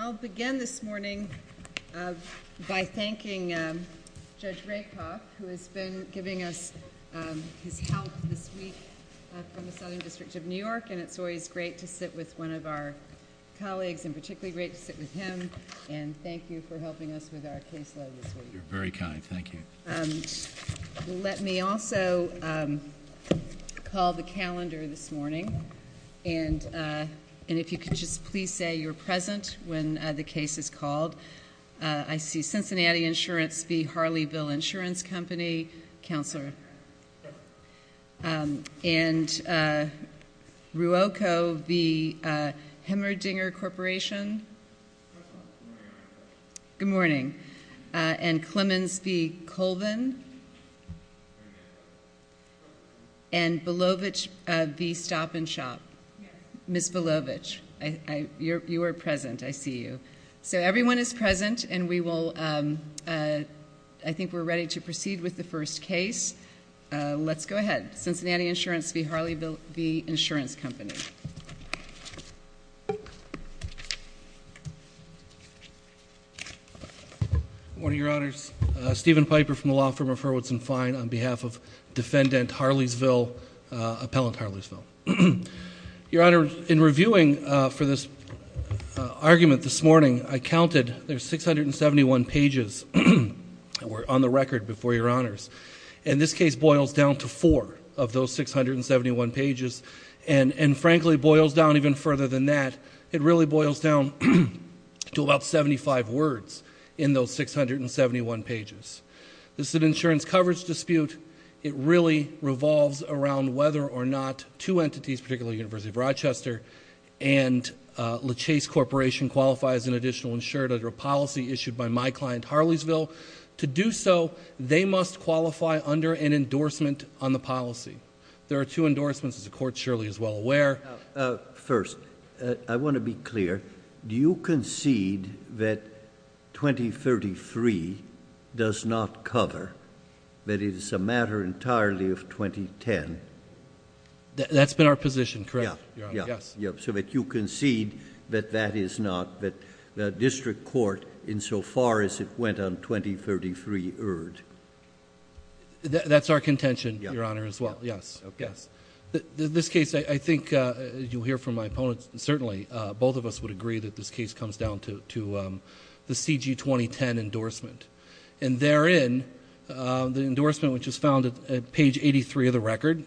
I'll begin this morning by thanking Judge Rakoff, who has been giving us his help this week from the Southern District of New York, and it's always great to sit with one of our colleagues, and particularly great to sit with him, and thank you for helping us with our caseload this week. You're very kind, thank you. Let me also call the calendar this morning, and if you could just please say you're present when the case is called. I see Cincinnati Insurance v. Harleyville Insurance Company. Counselor. And Ruoco v. Hemmerdinger Corporation. Good morning. And Clemens v. Colvin. And Belovich v. Stop and Shop. Ms. Belovich, you are present. I see you. So everyone is present, and we will, I think we're ready to proceed with the first case. Let's go ahead. Cincinnati Insurance v. Harleyville Insurance Company. Good morning, Your Honors. Steven Piper from the Law Firm of Hurwitz & Fine on behalf of Defendant Harleysville, Appellant Harleysville. Your Honor, in reviewing for this argument this morning, I counted there's 671 pages on the record before Your Honors. And this case boils down to four of those 671 pages. And frankly, it boils down even further than that. It really boils down to about 75 words in those 671 pages. This is an insurance coverage dispute. It really revolves around whether or not two entities, particularly the University of Rochester and LeChase Corporation, qualify as an additional insured under a policy issued by my client, Harleysville. To do so, they must qualify under an endorsement on the policy. There are two endorsements, as the Court surely is well aware. First, I want to be clear. Do you concede that 2033 does not cover, that it is a matter entirely of 2010? That's been our position, correct, Your Honor. Yes. Yes, so that you concede that that is not, that the district court, insofar as it went on 2033, erred. That's our contention, Your Honor, as well. Yes. Yes. This case, I think you'll hear from my opponents, certainly, both of us would agree that this case comes down to the CG2010 endorsement. And therein, the endorsement, which is found at page 83 of the record,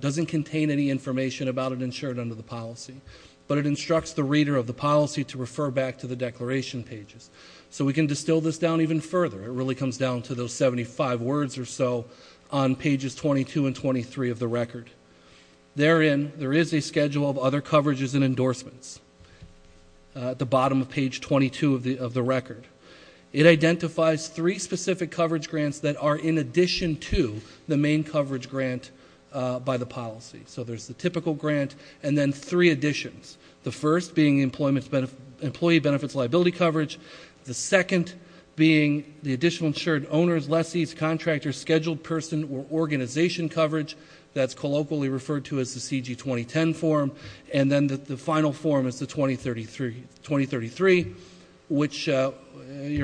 doesn't contain any information about an insured under the policy, but it instructs the reader of the policy to refer back to the declaration pages. So we can distill this down even further. It really comes down to those 75 words or so on pages 22 and 23 of the record. Therein, there is a schedule of other coverages and endorsements at the bottom of page 22 of the record. It identifies three specific coverage grants that are in addition to the main coverage grant by the policy. So there's the typical grant, and then three additions. The first being employee benefits liability coverage. The second being the additional insured owners, lessees, contractors, scheduled person, or organization coverage. That's colloquially referred to as the CG2010 form. And then the final form is the 2033, which your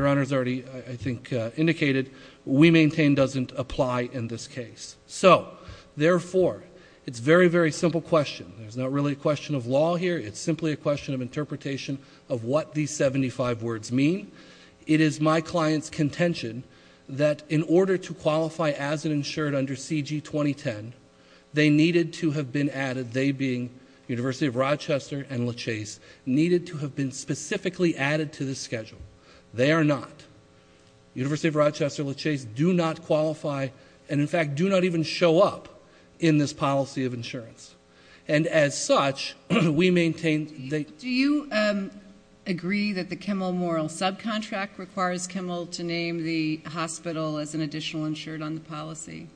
Honor has already, I think, indicated. We maintain doesn't apply in this case. So, therefore, it's a very, very simple question. It's not really a question of law here. It's simply a question of interpretation of what these 75 words mean. It is my client's contention that in order to qualify as an insured under CG2010, they needed to have been added, they being University of Rochester and LaChase, needed to have been specifically added to the schedule. They are not. University of Rochester, LaChase do not qualify and, in fact, do not even show up in this policy of insurance. And, as such, we maintain they- Do you agree that the Kimmel Moral Subcontract requires Kimmel to name the hospital as an additional insured on the policy?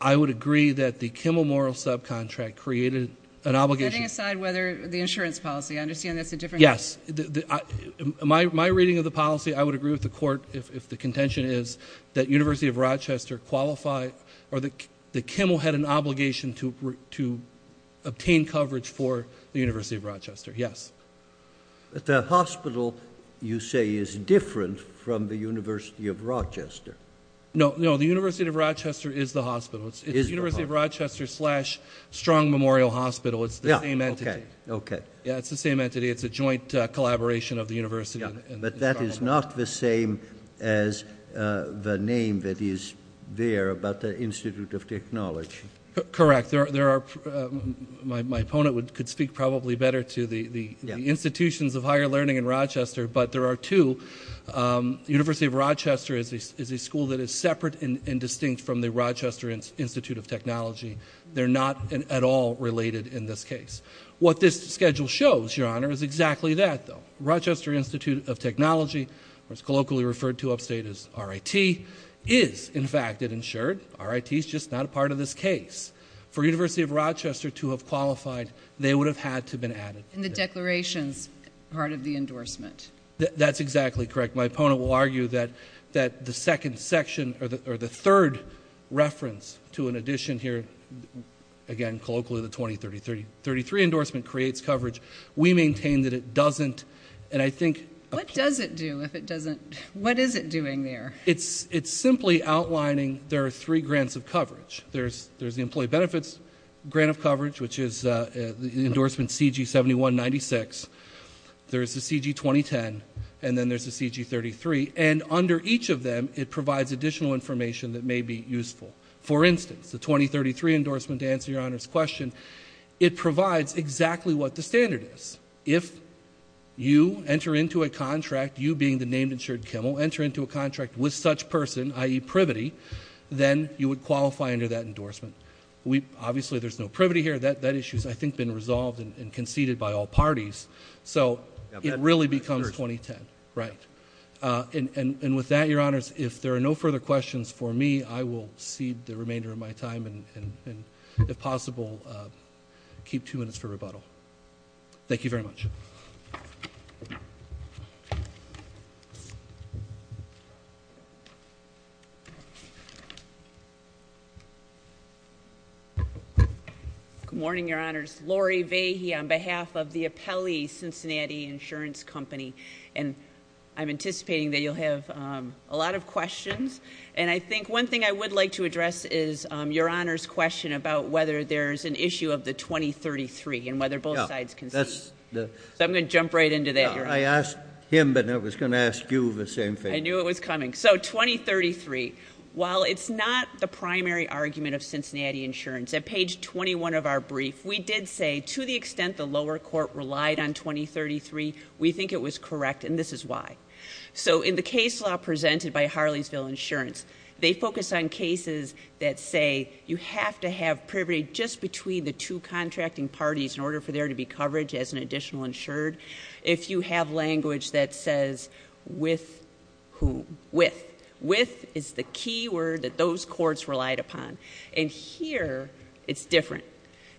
I would agree that the Kimmel Moral Subcontract created an obligation- Setting aside whether the insurance policy, I understand that's a different- Yes. My reading of the policy, I would agree with the Court if the contention is that University of Rochester qualify or that Kimmel had an obligation to obtain coverage for the University of Rochester. Yes. But the hospital, you say, is different from the University of Rochester. No, no, the University of Rochester is the hospital. It's University of Rochester slash Strong Memorial Hospital. It's the same entity. Yeah, okay, okay. Yeah, it's the same entity. It's a joint collaboration of the university and the hospital. But that is not the same as the name that is there about the Institute of Technology. Correct. There are- My opponent could speak probably better to the institutions of higher learning in Rochester, but there are two. University of Rochester is a school that is separate and distinct from the Rochester Institute of Technology. They're not at all related in this case. What this schedule shows, Your Honor, is exactly that, though. Rochester Institute of Technology, or it's colloquially referred to upstate as RIT, is, in fact, insured. RIT is just not a part of this case. For University of Rochester to have qualified, they would have had to have been added. And the declaration's part of the endorsement. That's exactly correct. My opponent will argue that the second section, or the third reference to an addition here, again, colloquially the 20-30-30-33 endorsement creates coverage. We maintain that it doesn't. And I think- What does it do if it doesn't? What is it doing there? It's simply outlining there are three grants of coverage. There's the employee benefits grant of coverage, which is the endorsement CG-71-96. There's the CG-2010. And then there's the CG-33. And under each of them, it provides additional information that may be useful. For instance, the 20-33 endorsement, to answer Your Honor's question, it provides exactly what the standard is. If you enter into a contract, you being the named insured Kimmel, enter into a contract with such person, i.e. privity, then you would qualify under that endorsement. Obviously, there's no privity here. That issue has, I think, been resolved and conceded by all parties. So it really becomes 2010. Right. And with that, Your Honors, if there are no further questions for me, I will cede the remainder of my time and, if possible, keep two minutes for rebuttal. Thank you very much. Good morning, Your Honors. Laurie Vahey on behalf of the Apelli Cincinnati Insurance Company. And I'm anticipating that you'll have a lot of questions. And I think one thing I would like to address is Your Honor's question about whether there's an issue of the 20-33 and whether both sides concede. So I'm going to jump right into that, Your Honor. I asked him, but I was going to ask you the same thing. I knew it was coming. So 20-33. While it's not the primary argument of Cincinnati Insurance, at page 21 of our brief, we did say, to the extent the lower court relied on 20-33, we think it was correct. And this is why. So in the case law presented by Harleysville Insurance, they focus on cases that say, you have to have privy just between the two contracting parties in order for there to be coverage as an additional insured. If you have language that says, with whom? With. With is the key word that those courts relied upon. And here, it's different.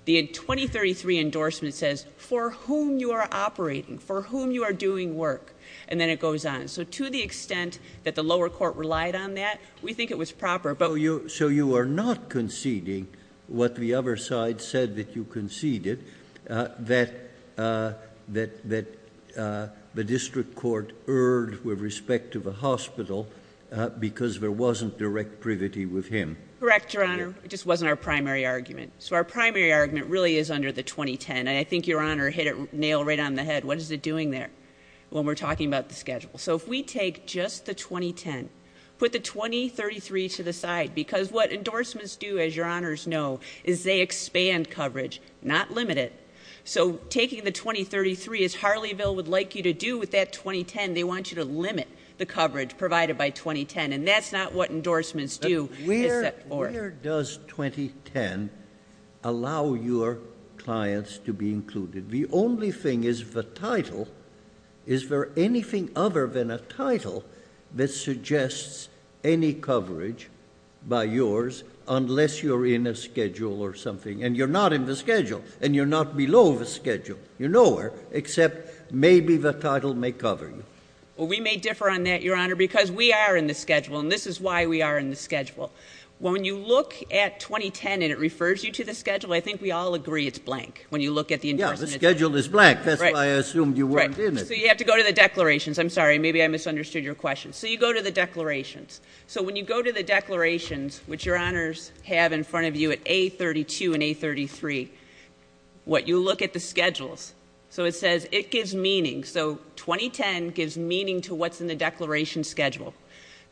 The 20-33 endorsement says, for whom you are operating, for whom you are doing work. And then it goes on. So to the extent that the lower court relied on that, we think it was proper. So you are not conceding what the other side said that you conceded, that the district court erred with respect to the hospital because there wasn't direct privity with him? Correct, Your Honor. It just wasn't our primary argument. So our primary argument really is under the 20-10. And I think Your Honor hit it nail right on the head. What is it doing there when we're talking about the schedule? So if we take just the 20-10, put the 20-33 to the side. Because what endorsements do, as Your Honors know, is they expand coverage, not limit it. So taking the 20-33, as Harleyville would like you to do with that 20-10, they want you to limit the coverage provided by 20-10. And that's not what endorsements do. Where does 20-10 allow your clients to be included? The only thing is the title. Is there anything other than a title that suggests any coverage by yours unless you're in a schedule or something? And you're not in the schedule. And you're not below the schedule. You're nowhere except maybe the title may cover you. Well, we may differ on that, Your Honor, because we are in the schedule. And this is why we are in the schedule. When you look at 20-10 and it refers you to the schedule, I think we all agree it's blank when you look at the endorsements. The schedule is blank. That's why I assumed you weren't in it. Right. So you have to go to the declarations. I'm sorry. Maybe I misunderstood your question. So you go to the declarations. So when you go to the declarations, which Your Honors have in front of you at A-32 and A-33, what you look at the schedules. So it says it gives meaning. So 20-10 gives meaning to what's in the declaration schedule.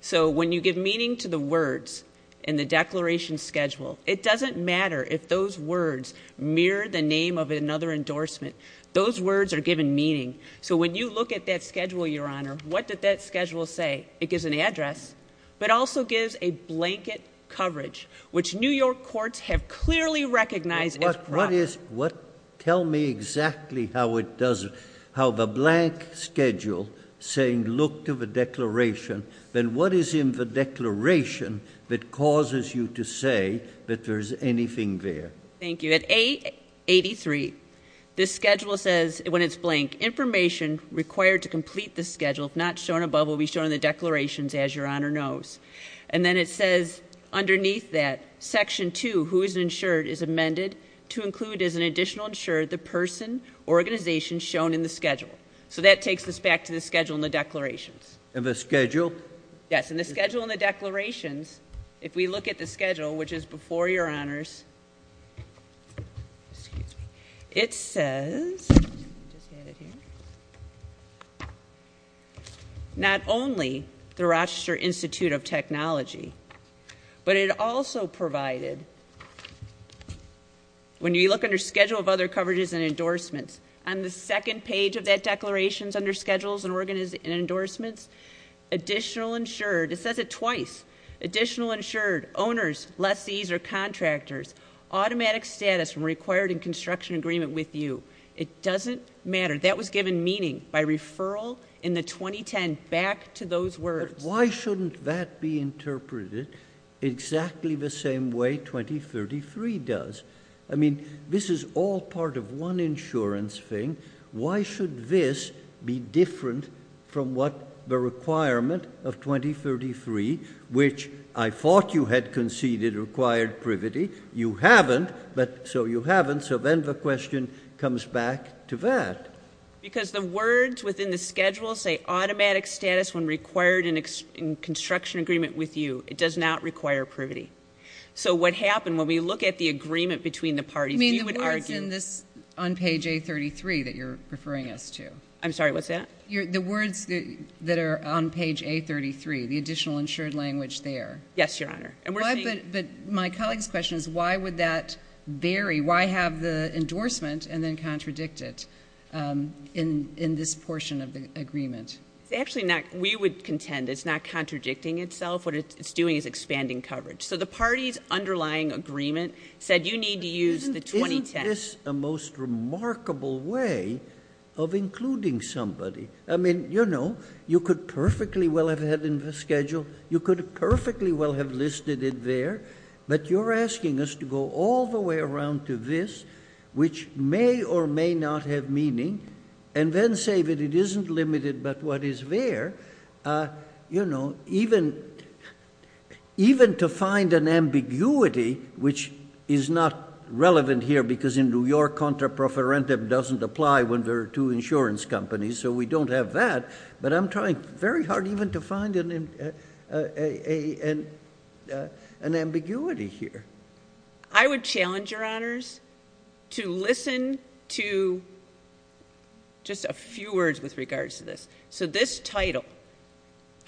So when you give meaning to the words in the declaration schedule, it doesn't matter if those words mirror the name of another endorsement. Those words are given meaning. So when you look at that schedule, Your Honor, what did that schedule say? It gives an address, but also gives a blanket coverage, which New York courts have clearly recognized as proper. Tell me exactly how it does it, how the blank schedule saying look to the declaration. Then what is in the declaration that causes you to say that there's anything there? Thank you. At A-83, this schedule says, when it's blank, information required to complete this schedule, if not shown above, will be shown in the declarations, as Your Honor knows. And then it says, underneath that, section two, who is insured, is amended to include as an additional insured the person or organization shown in the schedule. So that takes us back to the schedule in the declarations. In the schedule? Yes, in the schedule in the declarations, if we look at the schedule, which is before Your Honors, Excuse me. It says, not only the Rochester Institute of Technology, but it also provided, when you look under schedule of other coverages and endorsements, on the second page of that declaration is under schedules and endorsements. Additional insured, it says it twice. Additional insured, owners, lessees, or contractors, automatic status when required in construction agreement with you. It doesn't matter. That was given meaning by referral in the 2010, back to those words. But why shouldn't that be interpreted exactly the same way 2033 does? I mean, this is all part of one insurance thing. Why should this be different from what the requirement of 2033, which I thought you had conceded required privity, you haven't, so you haven't, so then the question comes back to that. Because the words within the schedule say automatic status when required in construction agreement with you. It does not require privity. So what happened, when we look at the agreement between the parties, we would argue Can you imagine this on page A33 that you're referring us to? I'm sorry, what's that? The words that are on page A33, the additional insured language there. Yes, Your Honor. But my colleague's question is why would that vary? Why have the endorsement and then contradict it in this portion of the agreement? Actually, we would contend it's not contradicting itself. What it's doing is expanding coverage. So the party's underlying agreement said you need to use the 2010. Isn't this a most remarkable way of including somebody? I mean, you know, you could perfectly well have had it in the schedule. You could perfectly well have listed it there. But you're asking us to go all the way around to this, which may or may not have meaning, and then say that it isn't limited but what is there. You know, even to find an ambiguity, which is not relevant here, because in New York contra profferendum doesn't apply when there are two insurance companies, so we don't have that. But I'm trying very hard even to find an ambiguity here. I would challenge, Your Honors, to listen to just a few words with regards to this. So this title,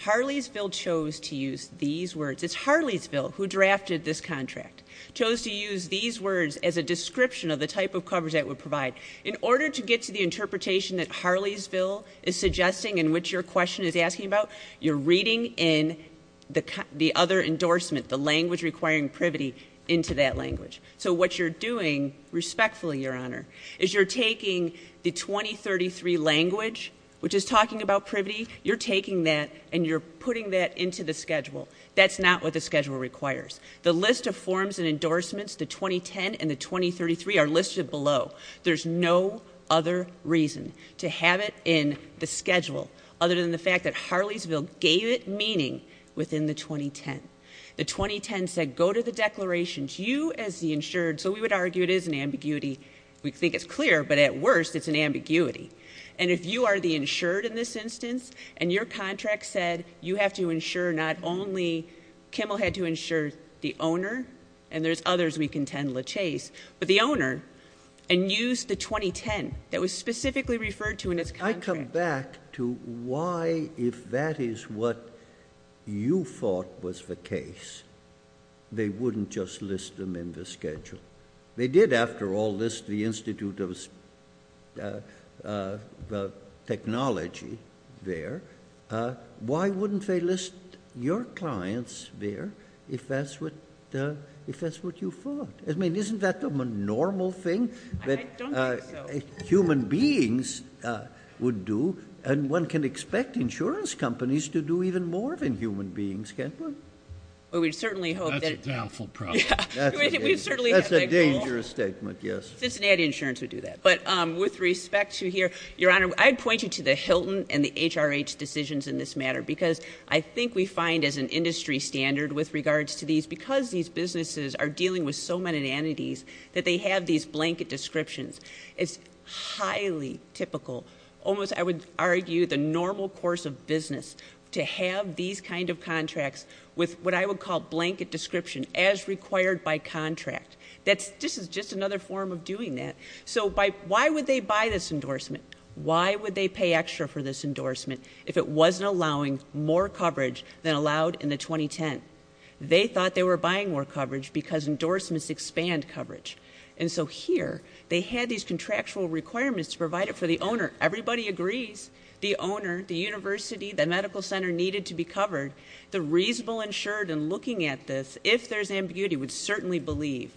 Harleysville chose to use these words. It's Harleysville who drafted this contract, chose to use these words as a description of the type of coverage that it would provide. In order to get to the interpretation that Harleysville is suggesting and which your question is asking about, you're reading in the other endorsement, the language requiring privity, into that language. So what you're doing respectfully, Your Honor, is you're taking the 2033 language, which is talking about privity, you're taking that and you're putting that into the schedule. That's not what the schedule requires. The list of forms and endorsements, the 2010 and the 2033, are listed below. There's no other reason to have it in the schedule other than the fact that Harleysville gave it meaning within the 2010. The 2010 said, go to the declarations, you as the insured. So we would argue it is an ambiguity. We think it's clear, but at worst, it's an ambiguity. And if you are the insured in this instance, and your contract said you have to insure not only, Kimmel had to insure the owner, and there's others we contend, LaChase, but the owner, and used the 2010 that was specifically referred to in its contract. I come back to why, if that is what you thought was the case, they wouldn't just list them in the schedule. They did, after all, list the Institute of Technology there. Why wouldn't they list your clients there if that's what you thought? I mean, isn't that the normal thing? I don't think so. That's what human beings would do, and one can expect insurance companies to do even more than human beings, can't one? That's a doubtful problem. That's a dangerous statement, yes. Cincinnati Insurance would do that. But with respect to here, Your Honor, I'd point you to the Hilton and the HRH decisions in this matter because I think we find as an industry standard with regards to these, because these businesses are dealing with so many entities that they have these blanket descriptions. It's highly typical, almost, I would argue, the normal course of business to have these kind of contracts with what I would call blanket description as required by contract. This is just another form of doing that. So why would they buy this endorsement? Why would they pay extra for this endorsement if it wasn't allowing more coverage than allowed in the 2010? They thought they were buying more coverage because endorsements expand coverage. And so here, they had these contractual requirements to provide it for the owner. Everybody agrees, the owner, the university, the medical center needed to be covered. The reasonable insured in looking at this, if there's ambiguity, would certainly believe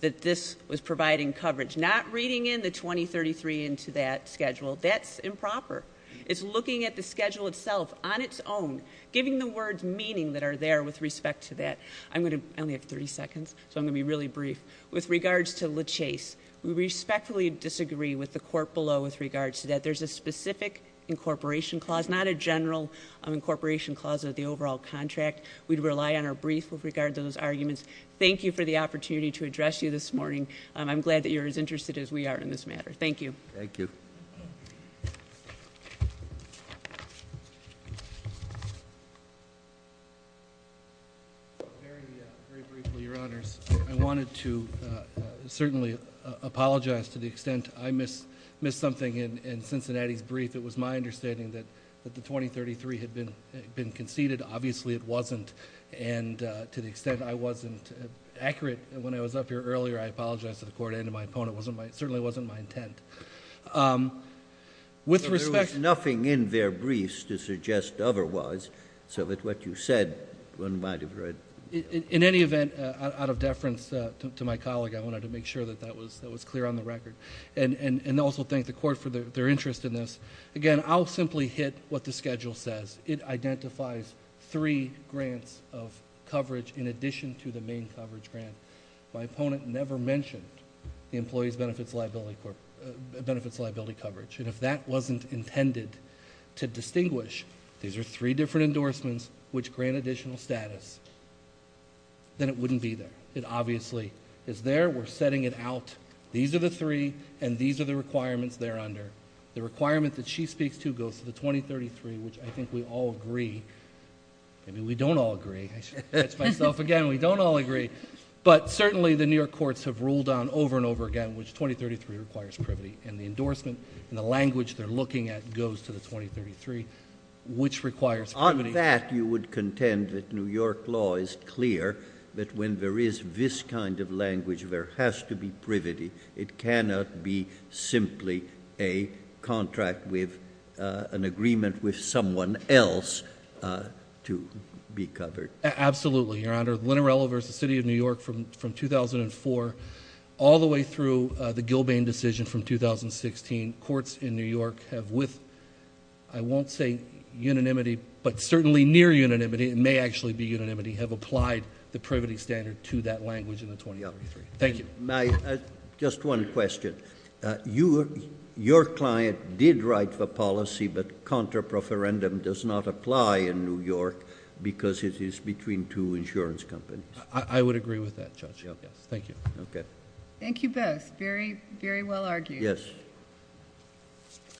that this was providing coverage. Not reading in the 2033 into that schedule, that's improper. It's looking at the schedule itself on its own, giving the words meaning that are there with respect to that. I only have 30 seconds, so I'm going to be really brief. With regards to LeChase, we respectfully disagree with the court below with regards to that. There's a specific incorporation clause, not a general incorporation clause of the overall contract. We'd rely on our brief with regard to those arguments. Thank you for the opportunity to address you this morning. I'm glad that you're as interested as we are in this matter. Thank you. Thank you. Very briefly, your honors. I wanted to certainly apologize to the extent I missed something in Cincinnati's brief. It was my understanding that the 2033 had been conceded. Obviously it wasn't, and to the extent I wasn't accurate when I was up here earlier, I apologize to the court and to my opponent. Certainly it wasn't my intent. With respect- There was nothing in their briefs to suggest otherwise, so that what you said one might have read. In any event, out of deference to my colleague, I wanted to make sure that that was clear on the record. And also thank the court for their interest in this. Again, I'll simply hit what the schedule says. It identifies three grants of coverage in addition to the main coverage grant. My opponent never mentioned the Employees Benefits Liability Coverage. And if that wasn't intended to distinguish, these are three different endorsements which grant additional status, then it wouldn't be there. It obviously is there, we're setting it out. These are the three, and these are the requirements they're under. The requirement that she speaks to goes to the 2033, which I think we all agree, maybe we don't all agree. I said it to myself again, we don't all agree. But certainly the New York courts have ruled on over and over again, which 2033 requires privity. And the endorsement and the language they're looking at goes to the 2033, which requires privity. On that, you would contend that New York law is clear that when there is this kind of language, there has to be privity, it cannot be simply a contract with an agreement with someone else to be covered. Absolutely, your honor. Linarello versus the city of New York from 2004 all the way through the Gilbane decision from 2016. Courts in New York have with, I won't say unanimity, but certainly near unanimity, it may actually be unanimity, have applied the privity standard to that language in the 2033. Thank you. My, just one question. Your client did write the policy, but contra proferendum does not apply in New York because it is between two insurance companies. I would agree with that, Judge. Thank you. Okay. Thank you both. Very, very well argued. Yes.